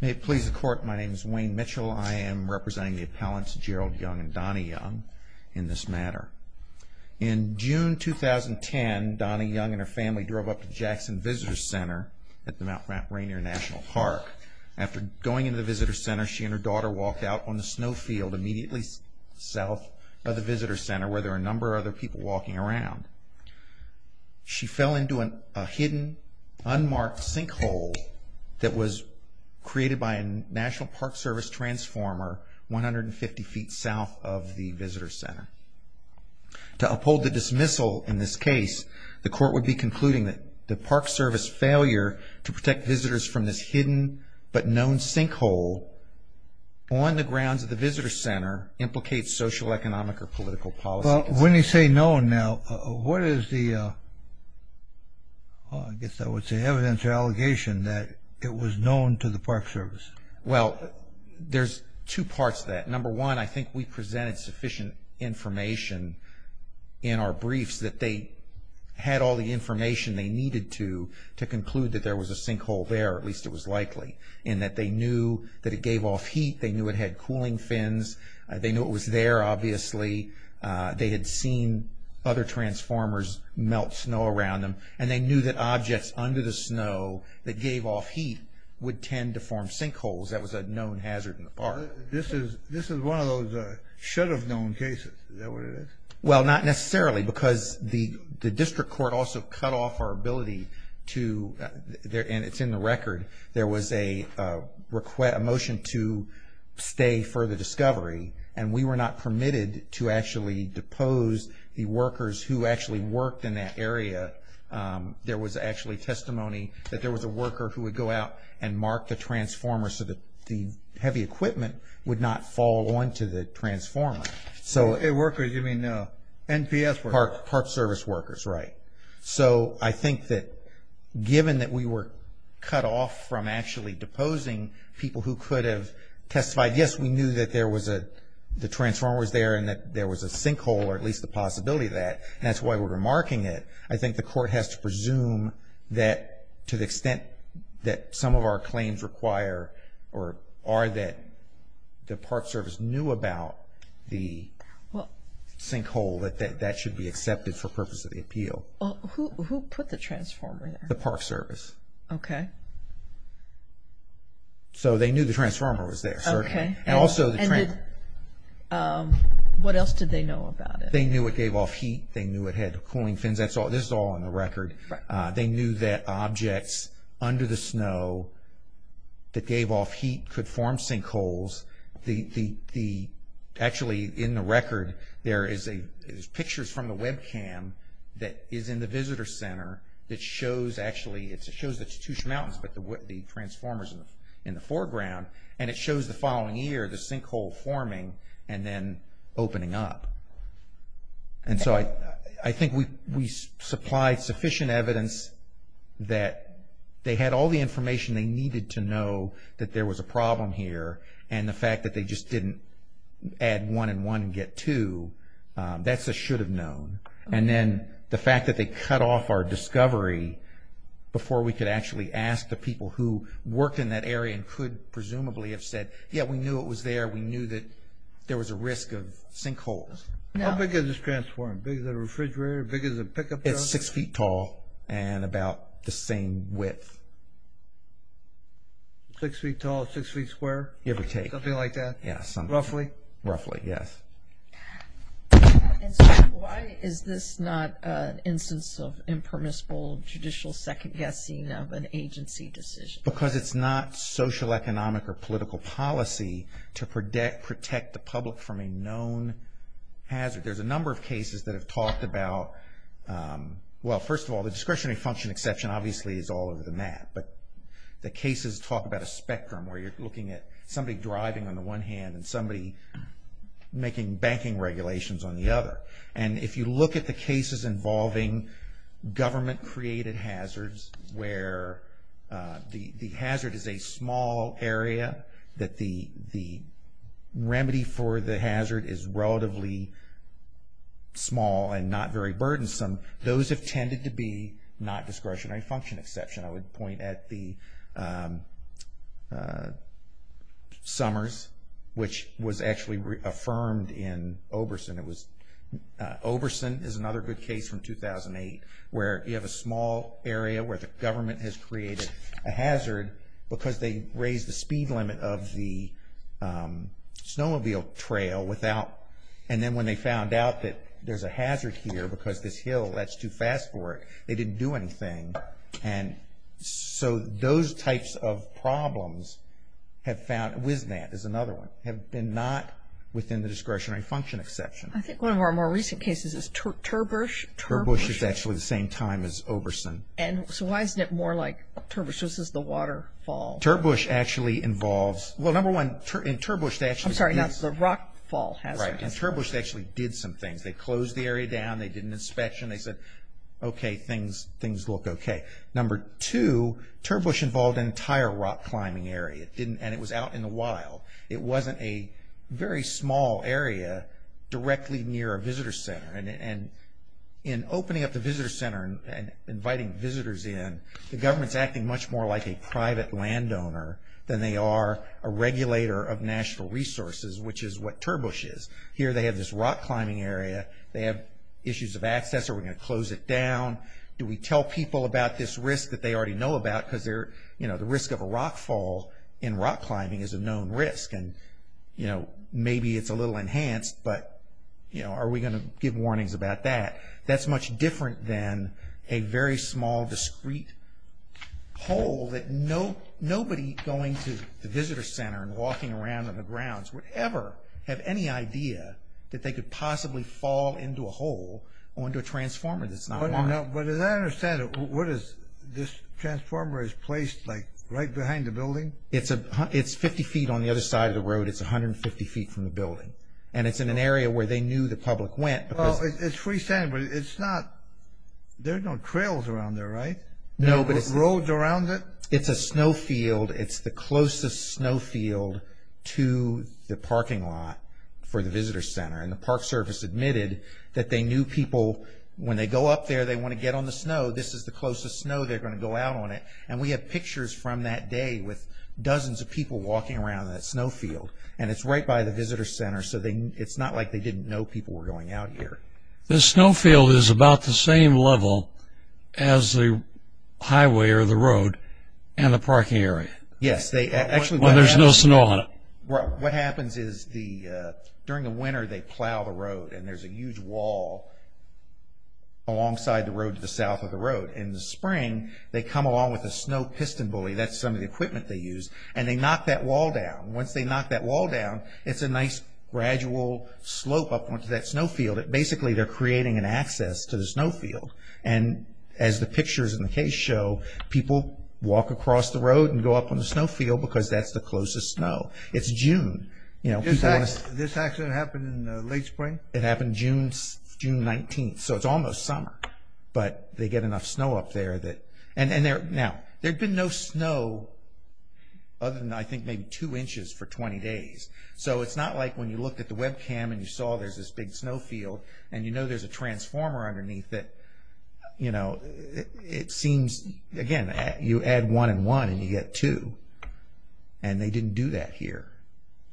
May it please the Court, my name is Wayne Mitchell. I am representing the appellants Gerald Young and Donny Young in this matter. In June 2010, Donny Young and her family drove up to Jackson Visitor's Center at the Mount Rainier National Park. After going into the visitor's center, she and her daughter walked out on the snow field immediately south of the visitor's center, where there were a number of other people walking around. She fell into a hidden, unmarked sinkhole that was created by a National Park Service transformer 150 feet south of the visitor's center. To uphold the dismissal in this case, the Court would be concluding that the Park Service failure to protect visitors from this hidden, but known sinkhole on the grounds of the visitor's center implicates social, economic, or political policy. Well, when you say known now, what is the, I guess I would say, evidence or allegation that it was known to the Park Service? Well, there's two parts to that. Number one, I think we presented sufficient information in our briefs that they had all the information they needed to conclude that there was a sinkhole there, or at least it was likely, in that they knew that it gave off heat. They knew it had cooling fins. They knew it was there, obviously. They had seen other transformers melt snow around them, and they knew that objects under the snow that gave off heat would tend to form sinkholes. That was a known hazard in the park. This is one of those should-have-known cases. Is that what it is? Well, not necessarily, because the district court also cut off our ability to, and it's in the record, there was a motion to stay for the discovery, and we were not permitted to actually depose the workers who actually worked in that area. There was actually testimony that there was a worker who would go out and mark the transformer so that the heavy equipment would not fall onto the transformer. Workers, you mean NPS workers? Park service workers, right. So I think that given that we were cut off from actually deposing people who could have testified, yes, we knew that the transformer was there and that there was a sinkhole, or at least the possibility of that, and that's why we're marking it, I think the court has to presume that to the extent that some of our claims require or are that the park service knew about the sinkhole, that that should be accepted for purposes of the appeal. Who put the transformer there? The park service. Okay. So they knew the transformer was there, certainly. Okay, and what else did they know about it? They knew it gave off heat. They knew it had cooling fins. This is all on the record. They knew that objects under the snow that gave off heat could form sinkholes. Actually, in the record, there is pictures from the webcam that is in the visitor center that shows, actually it shows the Chattoosha Mountains, but the transformers in the foreground, and it shows the following year the sinkhole forming and then opening up. And so I think we supplied sufficient evidence that they had all the information they needed to know that there was a problem here and the fact that they just didn't add one and one and get two, that's a should have known. And then the fact that they cut off our discovery before we could actually ask the people who worked in that area and could presumably have said, yeah, we knew it was there, we knew that there was a risk of sinkholes. How big is this transformer? Big as a refrigerator? Big as a pickup truck? It's six feet tall and about the same width. Six feet tall, six feet square? Give or take. Something like that? Yes. Roughly? Roughly, yes. And so why is this not an instance of impermissible judicial second-guessing of an agency decision? Because it's not social, economic, or political policy to protect the public from a known hazard. There's a number of cases that have talked about, well, first of all, the discretionary function exception obviously is all over the map, but the cases talk about a spectrum where you're looking at somebody driving on the one hand and somebody making banking regulations on the other. And if you look at the cases involving government-created hazards where the hazard is a small area, that the remedy for the hazard is relatively small and not very burdensome, those have tended to be not discretionary function exception. I would point at the Summers, which was actually affirmed in Oberson. Oberson is another good case from 2008 where you have a small area where the government has created a hazard because they raised the speed limit of the snowmobile trail without, and then when they found out that there's a hazard here because this hill, that's too fast for it, they didn't do anything. And so those types of problems have found, WISNAT is another one, have been not within the discretionary function exception. I think one of our more recent cases is Turbush. Turbush is actually the same time as Oberson. And so why isn't it more like Turbush? This is the waterfall. Turbush actually involves, well, number one, in Turbush they actually. I'm sorry, that's the rockfall hazard. Right. In Turbush they actually did some things. They closed the area down. They did an inspection. They said, okay, things look okay. Number two, Turbush involved an entire rock climbing area. And it was out in the wild. It wasn't a very small area directly near a visitor center. And in opening up the visitor center and inviting visitors in, the government's acting much more like a private landowner than they are a regulator of national resources, which is what Turbush is. Here they have this rock climbing area. They have issues of access. Are we going to close it down? Do we tell people about this risk that they already know about because they're, you know, the risk of a rock fall in rock climbing is a known risk. And, you know, maybe it's a little enhanced, but, you know, are we going to give warnings about that? That's much different than a very small, discreet hole that nobody going to the visitor center and walking around on the grounds would ever have any idea that they could possibly fall into a hole or into a transformer that's not locked. But as I understand it, what is this transformer is placed like right behind the building? It's 50 feet on the other side of the road. It's 150 feet from the building. And it's in an area where they knew the public went. Well, it's freestanding, but it's not. There are no trails around there, right? No, but it's. No roads around it? It's a snow field. It's the closest snow field to the parking lot for the visitor center. And the park service admitted that they knew people, when they go up there, they want to get on the snow. This is the closest snow they're going to go out on it. And we have pictures from that day with dozens of people walking around that snow field. And it's right by the visitor center. So it's not like they didn't know people were going out here. The snow field is about the same level as the highway or the road and the parking area. Yes. Well, there's no snow on it. Well, what happens is during the winter, they plow the road, and there's a huge wall alongside the road to the south of the road. In the spring, they come along with a snow piston bully. That's some of the equipment they use. And they knock that wall down. Once they knock that wall down, it's a nice gradual slope up onto that snow field. Basically, they're creating an access to the snow field. And as the pictures in the case show, people walk across the road and go up on the snow field because that's the closest snow. It's June. This accident happened in late spring? It happened June 19th. So it's almost summer. But they get enough snow up there. Now, there'd been no snow other than, I think, maybe two inches for 20 days. So it's not like when you looked at the webcam and you saw there's this big snow field, and you know there's a transformer underneath it, it seems, again, you add one and one, and you get two. And they didn't do that here.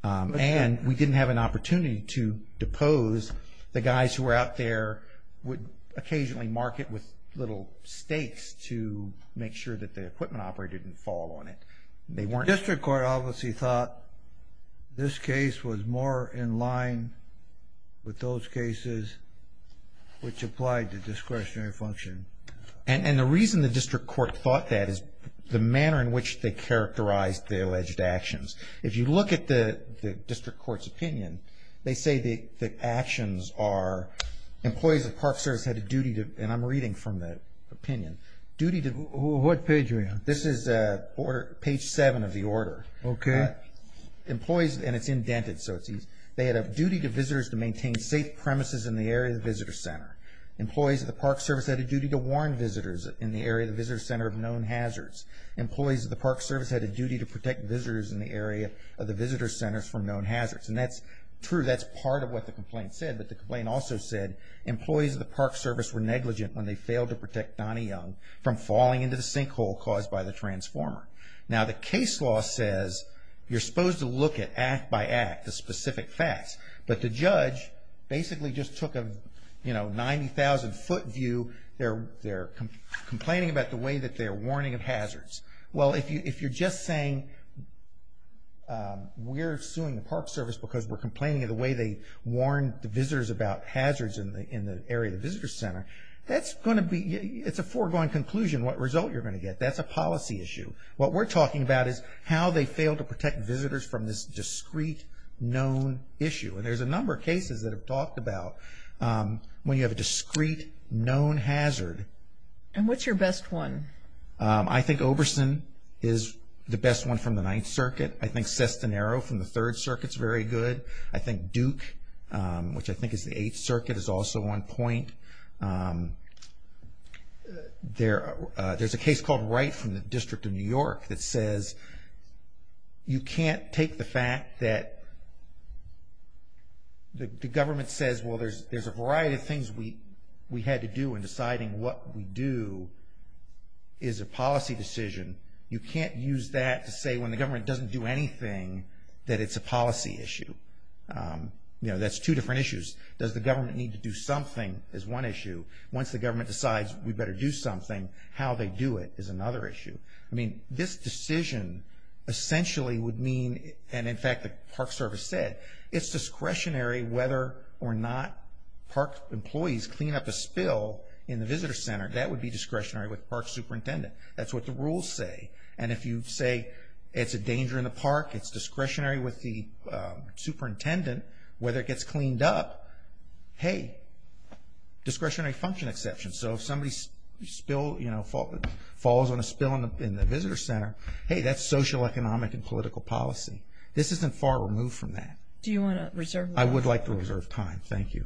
And we didn't have an opportunity to depose the guys who were out there, would occasionally mark it with little stakes to make sure that the equipment operator didn't fall on it. The district court obviously thought this case was more in line with those cases which applied to discretionary functioning. And the reason the district court thought that is the manner in which they characterized the alleged actions. If you look at the district court's opinion, they say the actions are employees of Park Service had a duty to, and I'm reading from that opinion, duty to... What page are you on? This is page seven of the order. Okay. Employees, and it's indented, so it's easy. They had a duty to visitors to maintain safe premises in the area of the visitor center. Employees of the Park Service had a duty to warn visitors in the area of the visitor center of known hazards. Employees of the Park Service had a duty to protect visitors in the area of the visitor centers from known hazards. And that's true. That's part of what the complaint said. But the complaint also said, employees of the Park Service were negligent when they failed to protect Donnie Young from falling into the sinkhole caused by the transformer. Now, the case law says you're supposed to look at act by act the specific facts, but the judge basically just took a 90,000-foot view. They're complaining about the way that they're warning of hazards. Well, if you're just saying we're suing the Park Service because we're complaining of the way they warned the visitors about hazards in the area of the visitor center, that's going to be, it's a foregoing conclusion what result you're going to get. That's a policy issue. What we're talking about is how they failed to protect visitors from this discrete known issue. And there's a number of cases that have talked about when you have a discrete known hazard. And what's your best one? I think Oberson is the best one from the Ninth Circuit. I think Sestanero from the Third Circuit is very good. I think Duke, which I think is the Eighth Circuit, is also on point. There's a case called Wright from the District of New York that says you can't take the fact that the government says, well, there's a variety of things we had to do in deciding what we do is a policy decision. You can't use that to say when the government doesn't do anything that it's a policy issue. You know, that's two different issues. Does the government need to do something is one issue. Once the government decides we better do something, how they do it is another issue. I mean, this decision essentially would mean, and in fact the Park Service said, it's discretionary whether or not Park employees clean up a spill in the visitor center. That would be discretionary with the Park Superintendent. That's what the rules say. And if you say it's a danger in the park, it's discretionary with the Superintendent, whether it gets cleaned up, hey, discretionary function exception. So if somebody falls on a spill in the visitor center, hey, that's socioeconomic and political policy. This isn't far removed from that. Do you want to reserve time? I would like to reserve time. Thank you. Thank you.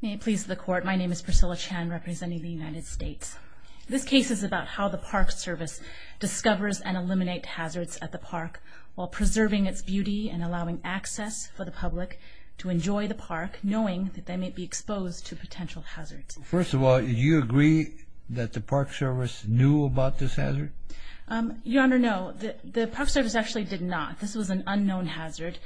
May it please the Court, my name is Priscilla Chan representing the United States. This case is about how the Park Service discovers and eliminates hazards at the park while preserving its beauty and allowing access for the public to enjoy the park, knowing that they may be exposed to potential hazards. First of all, do you agree that the Park Service knew about this hazard? Your Honor, no. The Park Service actually did not. This was an unknown hazard.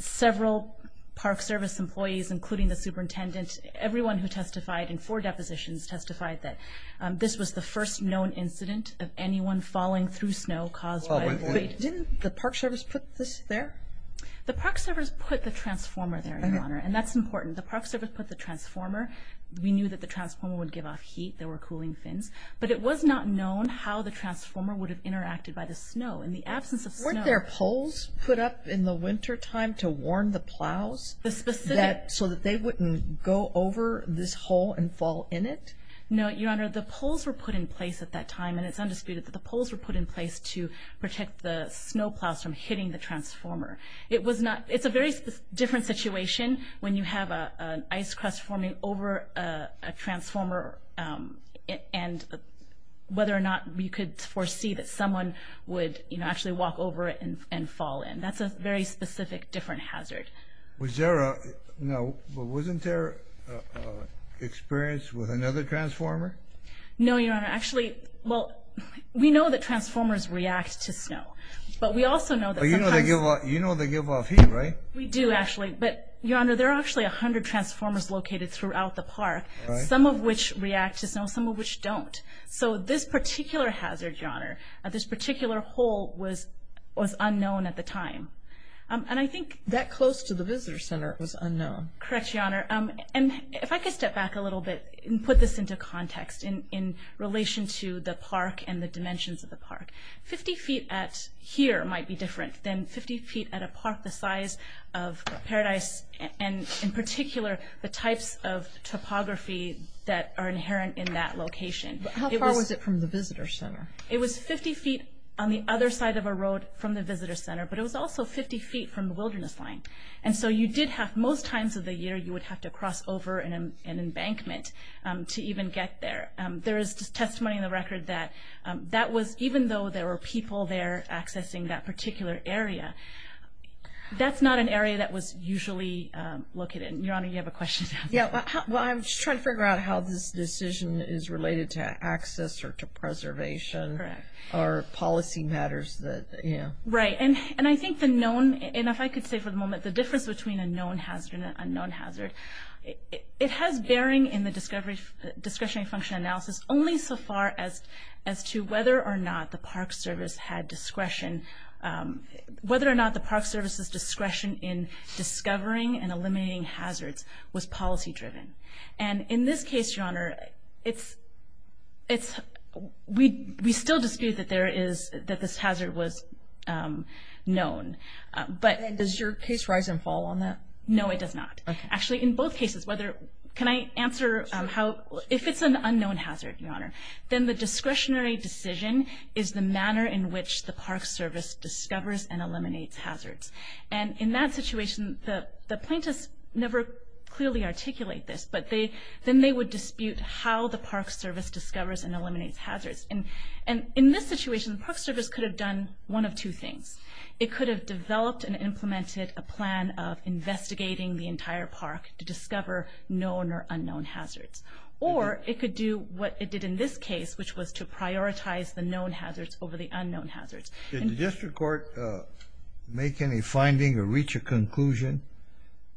Several Park Service employees, including the Superintendent, everyone who testified in four depositions testified that this was the first known incident of anyone falling through snow caused by a quake. Didn't the Park Service put this there? The Park Service put the transformer there, Your Honor, and that's important. The Park Service put the transformer. We knew that the transformer would give off heat. There were cooling fins. But it was not known how the transformer would have interacted by the snow. In the absence of snow. Weren't there poles put up in the wintertime to warn the plows so that they wouldn't go over this hole and fall in it? No, Your Honor. The poles were put in place at that time, and it's undisputed that the poles were put in place to protect the snow plows from hitting the transformer. It's a very different situation when you have an ice crust forming over a transformer and whether or not you could foresee that someone would actually walk over it and fall in. That's a very specific, different hazard. Wasn't there experience with another transformer? No, Your Honor. Actually, we know that transformers react to snow, but we also know that sometimes... You know they give off heat, right? We do, actually. But, Your Honor, there are actually 100 transformers located throughout the park, some of which react to snow, some of which don't. So this particular hazard, Your Honor, this particular hole was unknown at the time. That close to the visitor center was unknown? Correct, Your Honor. If I could step back a little bit and put this into context in relation to the park and the dimensions of the park. 50 feet at here might be different than 50 feet at a park the size of Paradise, and in particular the types of topography that are inherent in that location. How far was it from the visitor center? It was 50 feet on the other side of a road from the visitor center, but it was also 50 feet from the wilderness line. And so you did have most times of the year you would have to cross over an embankment to even get there. There is testimony in the record that that was, even though there were people there accessing that particular area, that's not an area that was usually located. Your Honor, you have a question? Well, I'm just trying to figure out how this decision is related to access or to preservation or policy matters. Right, and I think the known, and if I could say for the moment, the difference between a known hazard and an unknown hazard, it has bearing in the discretionary function analysis only so far as to whether or not the Park Service's discretion in discovering and eliminating hazards was policy driven. And in this case, Your Honor, we still dispute that this hazard was known. And does your case rise and fall on that? No, it does not. Actually, in both cases, can I answer how? If it's an unknown hazard, Your Honor, then the discretionary decision is the manner in which the Park Service discovers and eliminates hazards. And in that situation, the plaintiffs never clearly articulate this, but then they would dispute how the Park Service discovers and eliminates hazards. And in this situation, the Park Service could have done one of two things. It could have developed and implemented a plan of investigating the entire park to discover known or unknown hazards. Or it could do what it did in this case, which was to prioritize the known hazards over the unknown hazards. Did the district court make any finding or reach a conclusion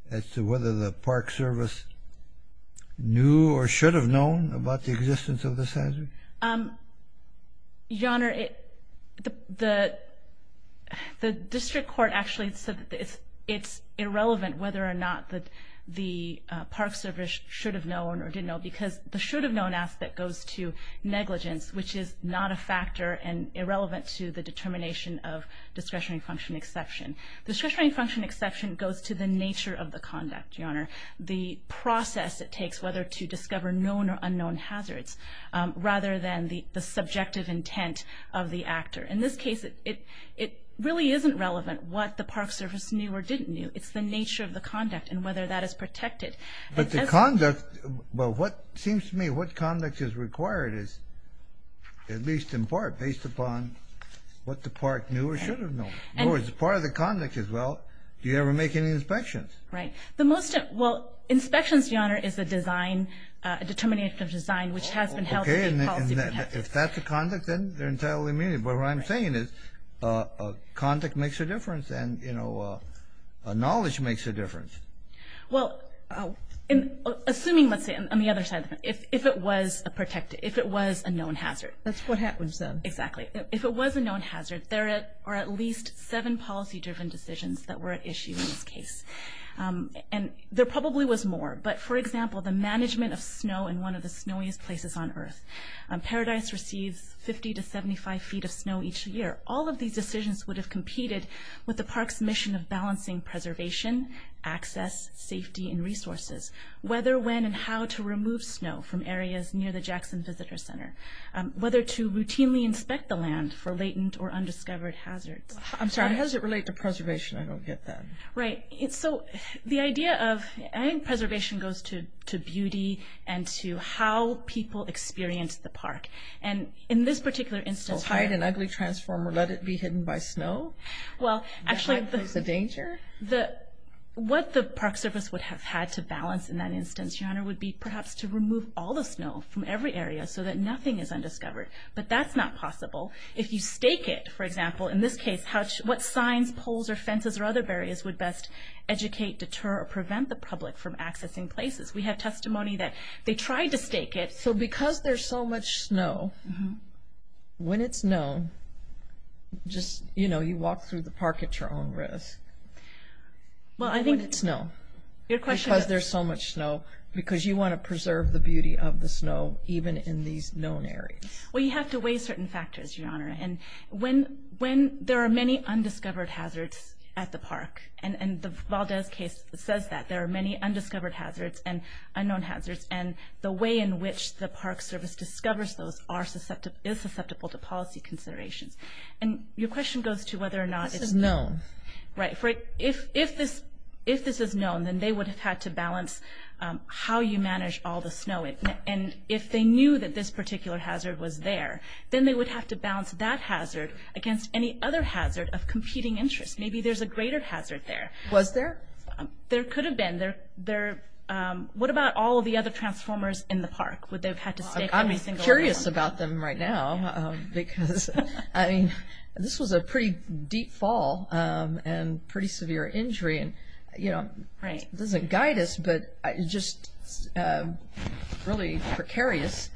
as to whether the Park Service knew or should have known about the existence of this hazard? Your Honor, the district court actually said that it's irrelevant whether or not the Park Service should have known or didn't know because the should have known aspect goes to negligence, which is not a factor and irrelevant to the determination of discretionary function exception. The discretionary function exception goes to the nature of the conduct, Your Honor, the process it takes whether to discover known or unknown hazards rather than the subjective intent of the actor. In this case, it really isn't relevant what the Park Service knew or didn't knew. It's the nature of the conduct and whether that is protected. But the conduct, well, what seems to me what conduct is required is, at least in part, based upon what the Park knew or should have known. In other words, part of the conduct is, well, do you ever make any inspections? Right. Well, inspections, Your Honor, is a determination of design which has been held to be policy protected. If that's the conduct, then they're entirely immediate. But what I'm saying is conduct makes a difference and knowledge makes a difference. Well, assuming, let's say, on the other side, if it was a known hazard. That's what happens then. Exactly. If it was a known hazard, there are at least seven policy-driven decisions that were at issue in this case. And there probably was more. But, for example, the management of snow in one of the snowiest places on earth. Paradise receives 50 to 75 feet of snow each year. All of these decisions would have competed with the park's mission of balancing preservation, access, safety, and resources, whether, when, and how to remove snow from areas near the Jackson Visitor Center, whether to routinely inspect the land for latent or undiscovered hazards. I'm sorry. How does it relate to preservation? I don't get that. Right. So the idea of preservation goes to beauty and to how people experience the park. And in this particular instance... So hide an ugly transformer, let it be hidden by snow? Well, actually... That might pose a danger? What the park service would have had to balance in that instance, Your Honor, would be perhaps to remove all the snow from every area so that nothing is undiscovered. But that's not possible. If you stake it, for example, in this case, what signs, poles, or fences or other barriers would best educate, deter, or prevent the public from accessing places? We have testimony that they tried to stake it. So because there's so much snow, when it's snow, just, you know, you walk through the park at your own risk. Well, I think... Because there's so much snow, because you want to preserve the beauty of the snow, even in these known areas. Well, you have to weigh certain factors, Your Honor. And when there are many undiscovered hazards at the park, and the Valdez case says that there are many undiscovered hazards and unknown hazards, and the way in which the park service discovers those is susceptible to policy considerations. And your question goes to whether or not... This is known. Right. If this is known, then they would have had to balance how you manage all the snow. And if they knew that this particular hazard was there, then they would have to balance that hazard against any other hazard of competing interest. Maybe there's a greater hazard there. Was there? There could have been. What about all of the other transformers in the park? Would they have had to stake every single one? I'm curious about them right now, because, I mean, this was a pretty deep fall, and pretty severe injury. Right. It doesn't guide us, but it's just a really precarious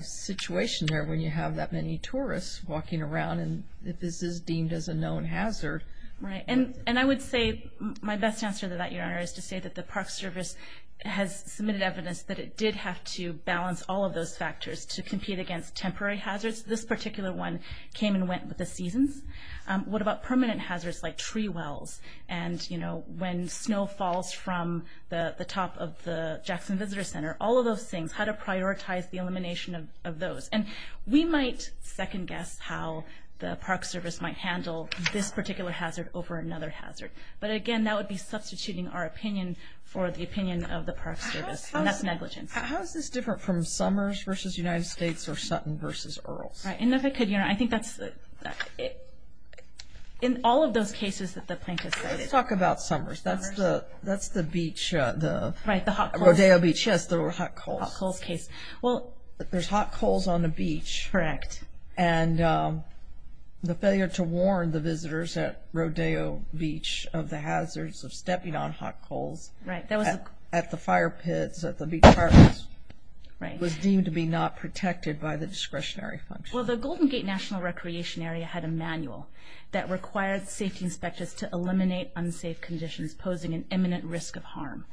situation there when you have that many tourists walking around, and this is deemed as a known hazard. Right. And I would say my best answer to that, Your Honor, is to say that the park service has submitted evidence that it did have to balance all of those factors to compete against temporary hazards. This particular one came and went with the seasons. What about permanent hazards like tree wells? And, you know, when snow falls from the top of the Jackson Visitor Center, all of those things, how to prioritize the elimination of those. And we might second-guess how the park service might handle this particular hazard over another hazard. But, again, that would be substituting our opinion for the opinion of the park service, and that's negligence. How is this different from Summers v. United States or Sutton v. Earls? Right. And if I could, Your Honor, I think that's the – in all of those cases that the plaintiff cited. Let's talk about Summers. That's the beach, the – Right, the hot coals. Rodeo Beach. Yes, the hot coals. Hot coals case. Well – There's hot coals on the beach. Correct. And the failure to warn the visitors at Rodeo Beach of the hazards of stepping on hot coals at the fire pits, Right. was deemed to be not protected by the discretionary function. Well, the Golden Gate National Recreation Area had a manual that required safety inspectors to eliminate unsafe conditions posing an imminent risk of harm.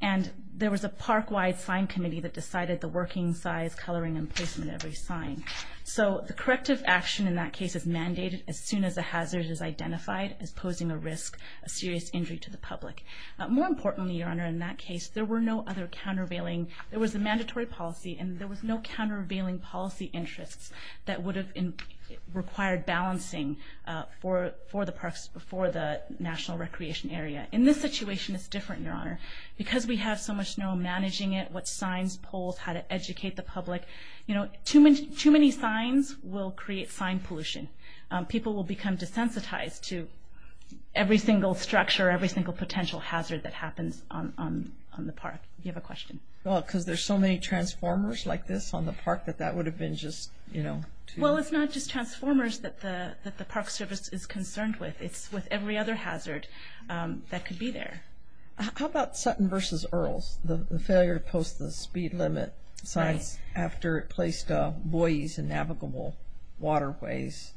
And there was a park-wide sign committee that decided the working size, coloring, and placement of every sign. So the corrective action in that case is mandated as soon as a hazard is identified as posing a risk, a serious injury to the public. More importantly, Your Honor, in that case, there were no other countervailing – there was a mandatory policy, and there was no countervailing policy interests that would have required balancing for the National Recreation Area. In this situation, it's different, Your Honor. Because we have so much snow, managing it, what signs, poles, how to educate the public, you know, too many signs will create sign pollution. People will become desensitized to every single structure, every single potential hazard that happens on the park. Do you have a question? Well, because there's so many transformers like this on the park that that would have been just, you know, too – Well, it's not just transformers that the Park Service is concerned with. It's with every other hazard that could be there. How about Sutton v. Earls, the failure to post the speed limit signs after it placed buoys in navigable waterways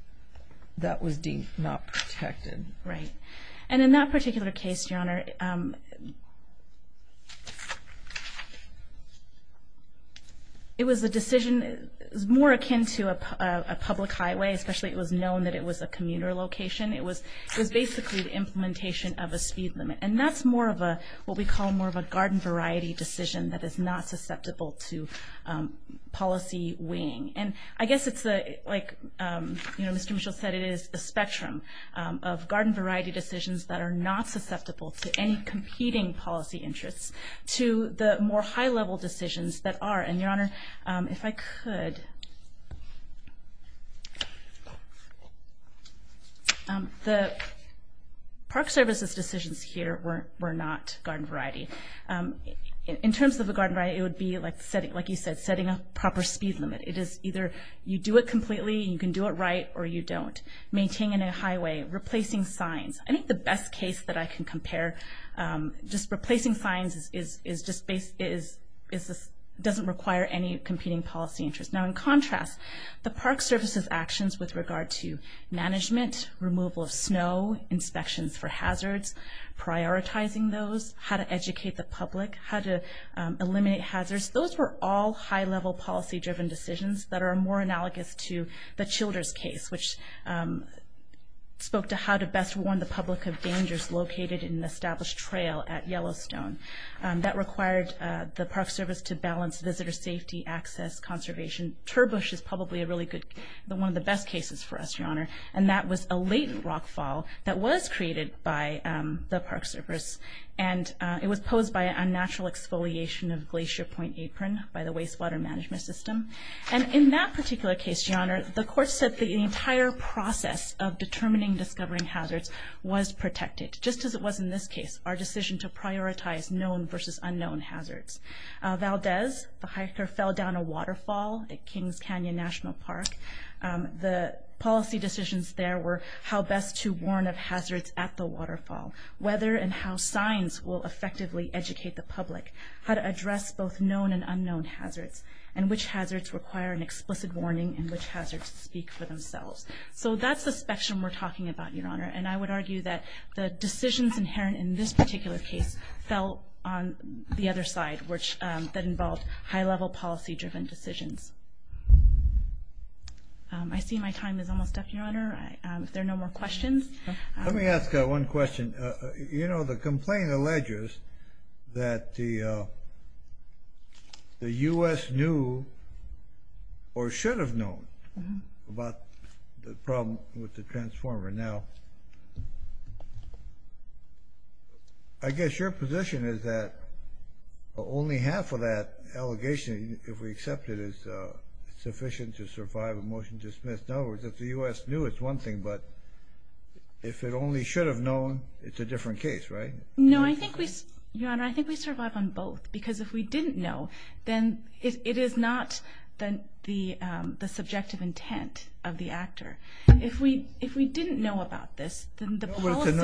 that was deemed not protected? Right. And in that particular case, Your Honor, it was a decision – it was more akin to a public highway, especially it was known that it was a commuter location. It was basically the implementation of a speed limit. And that's more of a – what we call more of a garden variety decision that is not susceptible to policy weighing. And I guess it's like, you know, Mr. Mitchell said, it is a spectrum of garden variety decisions that are not susceptible to any competing policy interests to the more high-level decisions that are. And, Your Honor, if I could, the Park Service's decisions here were not garden variety. In terms of a garden variety, it would be like you said, setting a proper speed limit. It is either you do it completely, you can do it right, or you don't. Maintaining a highway, replacing signs. I think the best case that I can compare, just replacing signs doesn't require any competing policy interest. Now, in contrast, the Park Service's actions with regard to management, removal of snow, inspections for hazards, prioritizing those, how to educate the public, how to eliminate hazards, those were all high-level policy-driven decisions that are more analogous to the Childers case, which spoke to how to best warn the public of dangers located in an established trail at Yellowstone. That required the Park Service to balance visitor safety, access, conservation. Turbush is probably a really good, one of the best cases for us, Your Honor. And that was a latent rockfall that was created by the Park Service. And it was posed by a natural exfoliation of Glacier Point Apron by the Wastewater Management System. And in that particular case, Your Honor, the court said the entire process of determining and discovering hazards was protected, just as it was in this case, our decision to prioritize known versus unknown hazards. Valdez, the hiker, fell down a waterfall at Kings Canyon National Park. The policy decisions there were how best to warn of hazards at the waterfall, whether and how signs will effectively educate the public, how to address both known and unknown hazards, and which hazards require an explicit warning and which hazards speak for themselves. So that's the spectrum we're talking about, Your Honor. And I would argue that the decisions inherent in this particular case fell on the other side, that involved high-level policy-driven decisions. I see my time is almost up, Your Honor. If there are no more questions. Let me ask one question. You know, the complaint alleges that the U.S. knew or should have known about the problem with the transformer. Now, I guess your position is that only half of that allegation, if we accept it, is sufficient to survive a motion to dismiss. In other words, if the U.S. knew, it's one thing, but if it only should have known, it's a different case, right? No, I think we survive on both, because if we didn't know, then it is not the subjective intent of the actor. If we didn't know about this, then the policy— You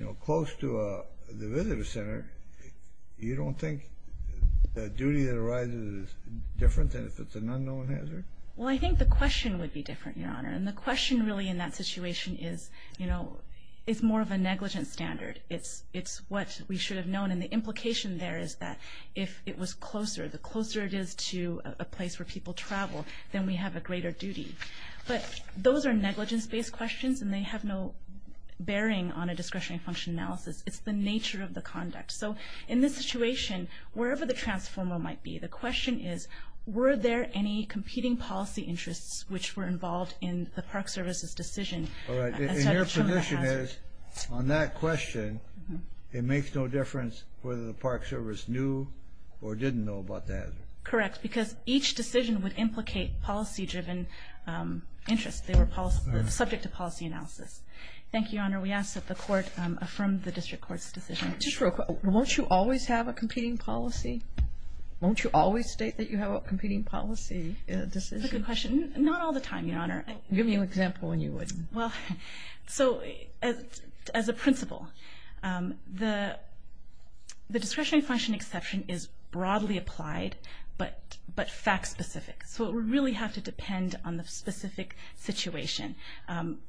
know, close to the visitor center, you don't think the duty that arises is different than if it's an unknown hazard? Well, I think the question would be different, Your Honor. And the question really in that situation is, you know, it's more of a negligence standard. It's what we should have known, and the implication there is that if it was closer, the closer it is to a place where people travel, then we have a greater duty. But those are negligence-based questions, and they have no bearing on a discretionary function analysis. It's the nature of the conduct. So in this situation, wherever the transformer might be, the question is, were there any competing policy interests which were involved in the Park Service's decision— All right, and your position is, on that question, it makes no difference whether the Park Service knew or didn't know about the hazard. Correct, because each decision would implicate policy-driven interests. They were subject to policy analysis. Thank you, Your Honor. We ask that the Court affirm the District Court's decision. Just real quick, won't you always have a competing policy? Won't you always state that you have a competing policy decision? That's a good question. Not all the time, Your Honor. Give me an example when you would. Well, so as a principle, the discretionary function exception is broadly applied but fact-specific. So it would really have to depend on the specific situation.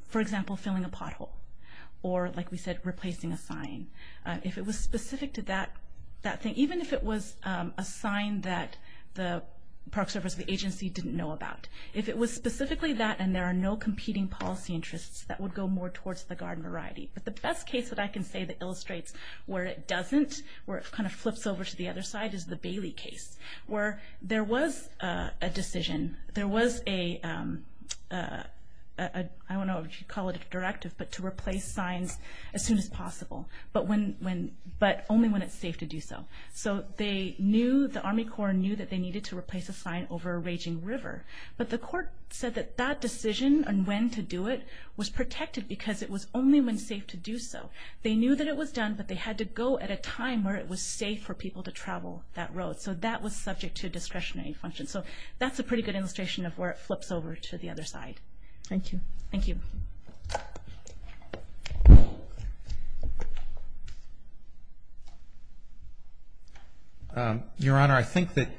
For example, filling a pothole or, like we said, replacing a sign. If it was specific to that thing, even if it was a sign that the Park Service or the agency didn't know about, if it was specifically that and there are no competing policy interests, that would go more towards the garden variety. But the best case that I can say that illustrates where it doesn't, where it kind of flips over to the other side, is the Bailey case, where there was a decision, there was a—I don't know if you'd call it a directive, but to replace signs as soon as possible, but only when it's safe to do so. So they knew, the Army Corps knew that they needed to replace a sign over a raging river. But the court said that that decision on when to do it was protected because it was only when safe to do so. They knew that it was done, but they had to go at a time where it was safe for people to travel that road. So that was subject to discretionary function. So that's a pretty good illustration of where it flips over to the other side. Thank you. Thank you. Your Honor, I think that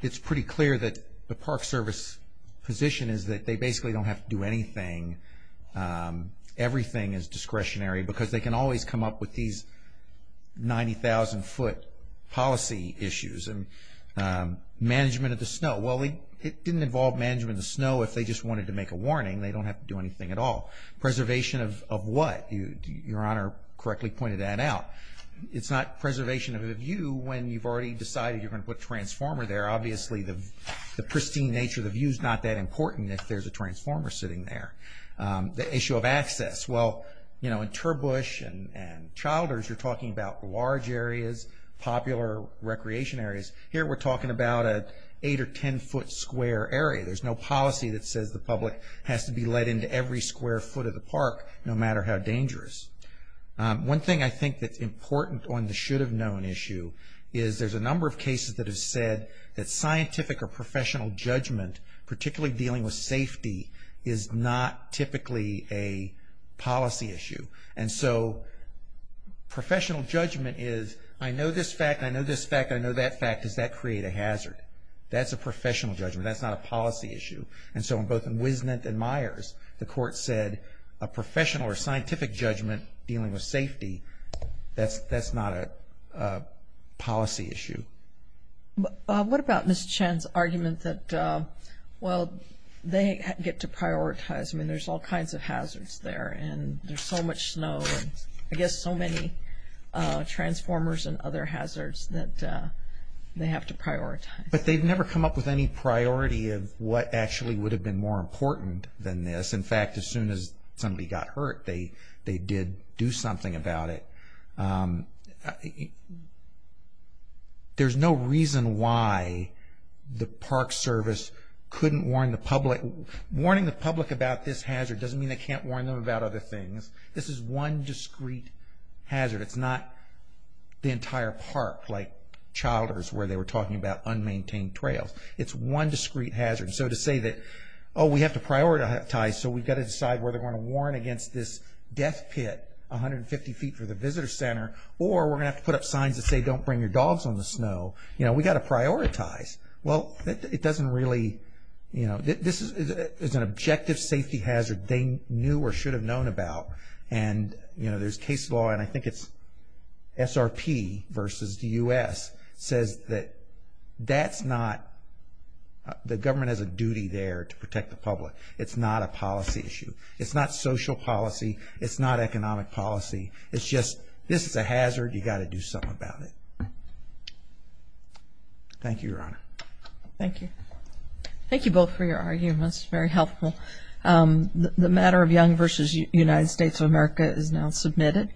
it's pretty clear that the Park Service position is that they basically don't have to do anything. Everything is discretionary because they can always come up with these 90,000-foot policy issues. Management of the snow. Well, it didn't involve management of the snow if they just wanted to make a warning. They don't have to do anything at all. Preservation of what? Your Honor correctly pointed that out. It's not preservation of a view when you've already decided you're going to put a transformer there. Obviously, the pristine nature of the view is not that important if there's a transformer sitting there. The issue of access. Well, you know, in Turbush and Childers, you're talking about large areas, popular recreation areas. Here we're talking about an 8- or 10-foot square area. There's no policy that says the public has to be let into every square foot of the park no matter how dangerous. One thing I think that's important on the should-have-known issue is there's a number of cases that have said that scientific or professional judgment, particularly dealing with safety, is not typically a policy issue. And so professional judgment is I know this fact, I know this fact, I know that fact. Does that create a hazard? That's a professional judgment. That's not a policy issue. And so both in Wisnant and Myers, the court said a professional or scientific judgment dealing with safety, that's not a policy issue. What about Ms. Chen's argument that, well, they get to prioritize? I mean, there's all kinds of hazards there, and there's so much snow, and I guess so many transformers and other hazards that they have to prioritize. But they've never come up with any priority of what actually would have been more important than this. In fact, as soon as somebody got hurt, they did do something about it. There's no reason why the Park Service couldn't warn the public. Warning the public about this hazard doesn't mean they can't warn them about other things. This is one discrete hazard. It's not the entire park, like Childers, where they were talking about unmaintained trails. It's one discrete hazard. So to say that, oh, we have to prioritize, so we've got to decide whether we're going to warn against this death pit, 150 feet from the visitor center, or we're going to have to put up signs that say don't bring your dogs on the snow. You know, we've got to prioritize. Well, it doesn't really, you know, this is an objective safety hazard they knew or should have known about. And, you know, there's case law, and I think it's SRP versus the U.S. says that that's not the government has a duty there to protect the public. It's not a policy issue. It's not social policy. It's not economic policy. It's just this is a hazard. You've got to do something about it. Thank you, Your Honor. Thank you. Thank you both for your arguments. Very helpful. The matter of Young v. United States of America is now submitted.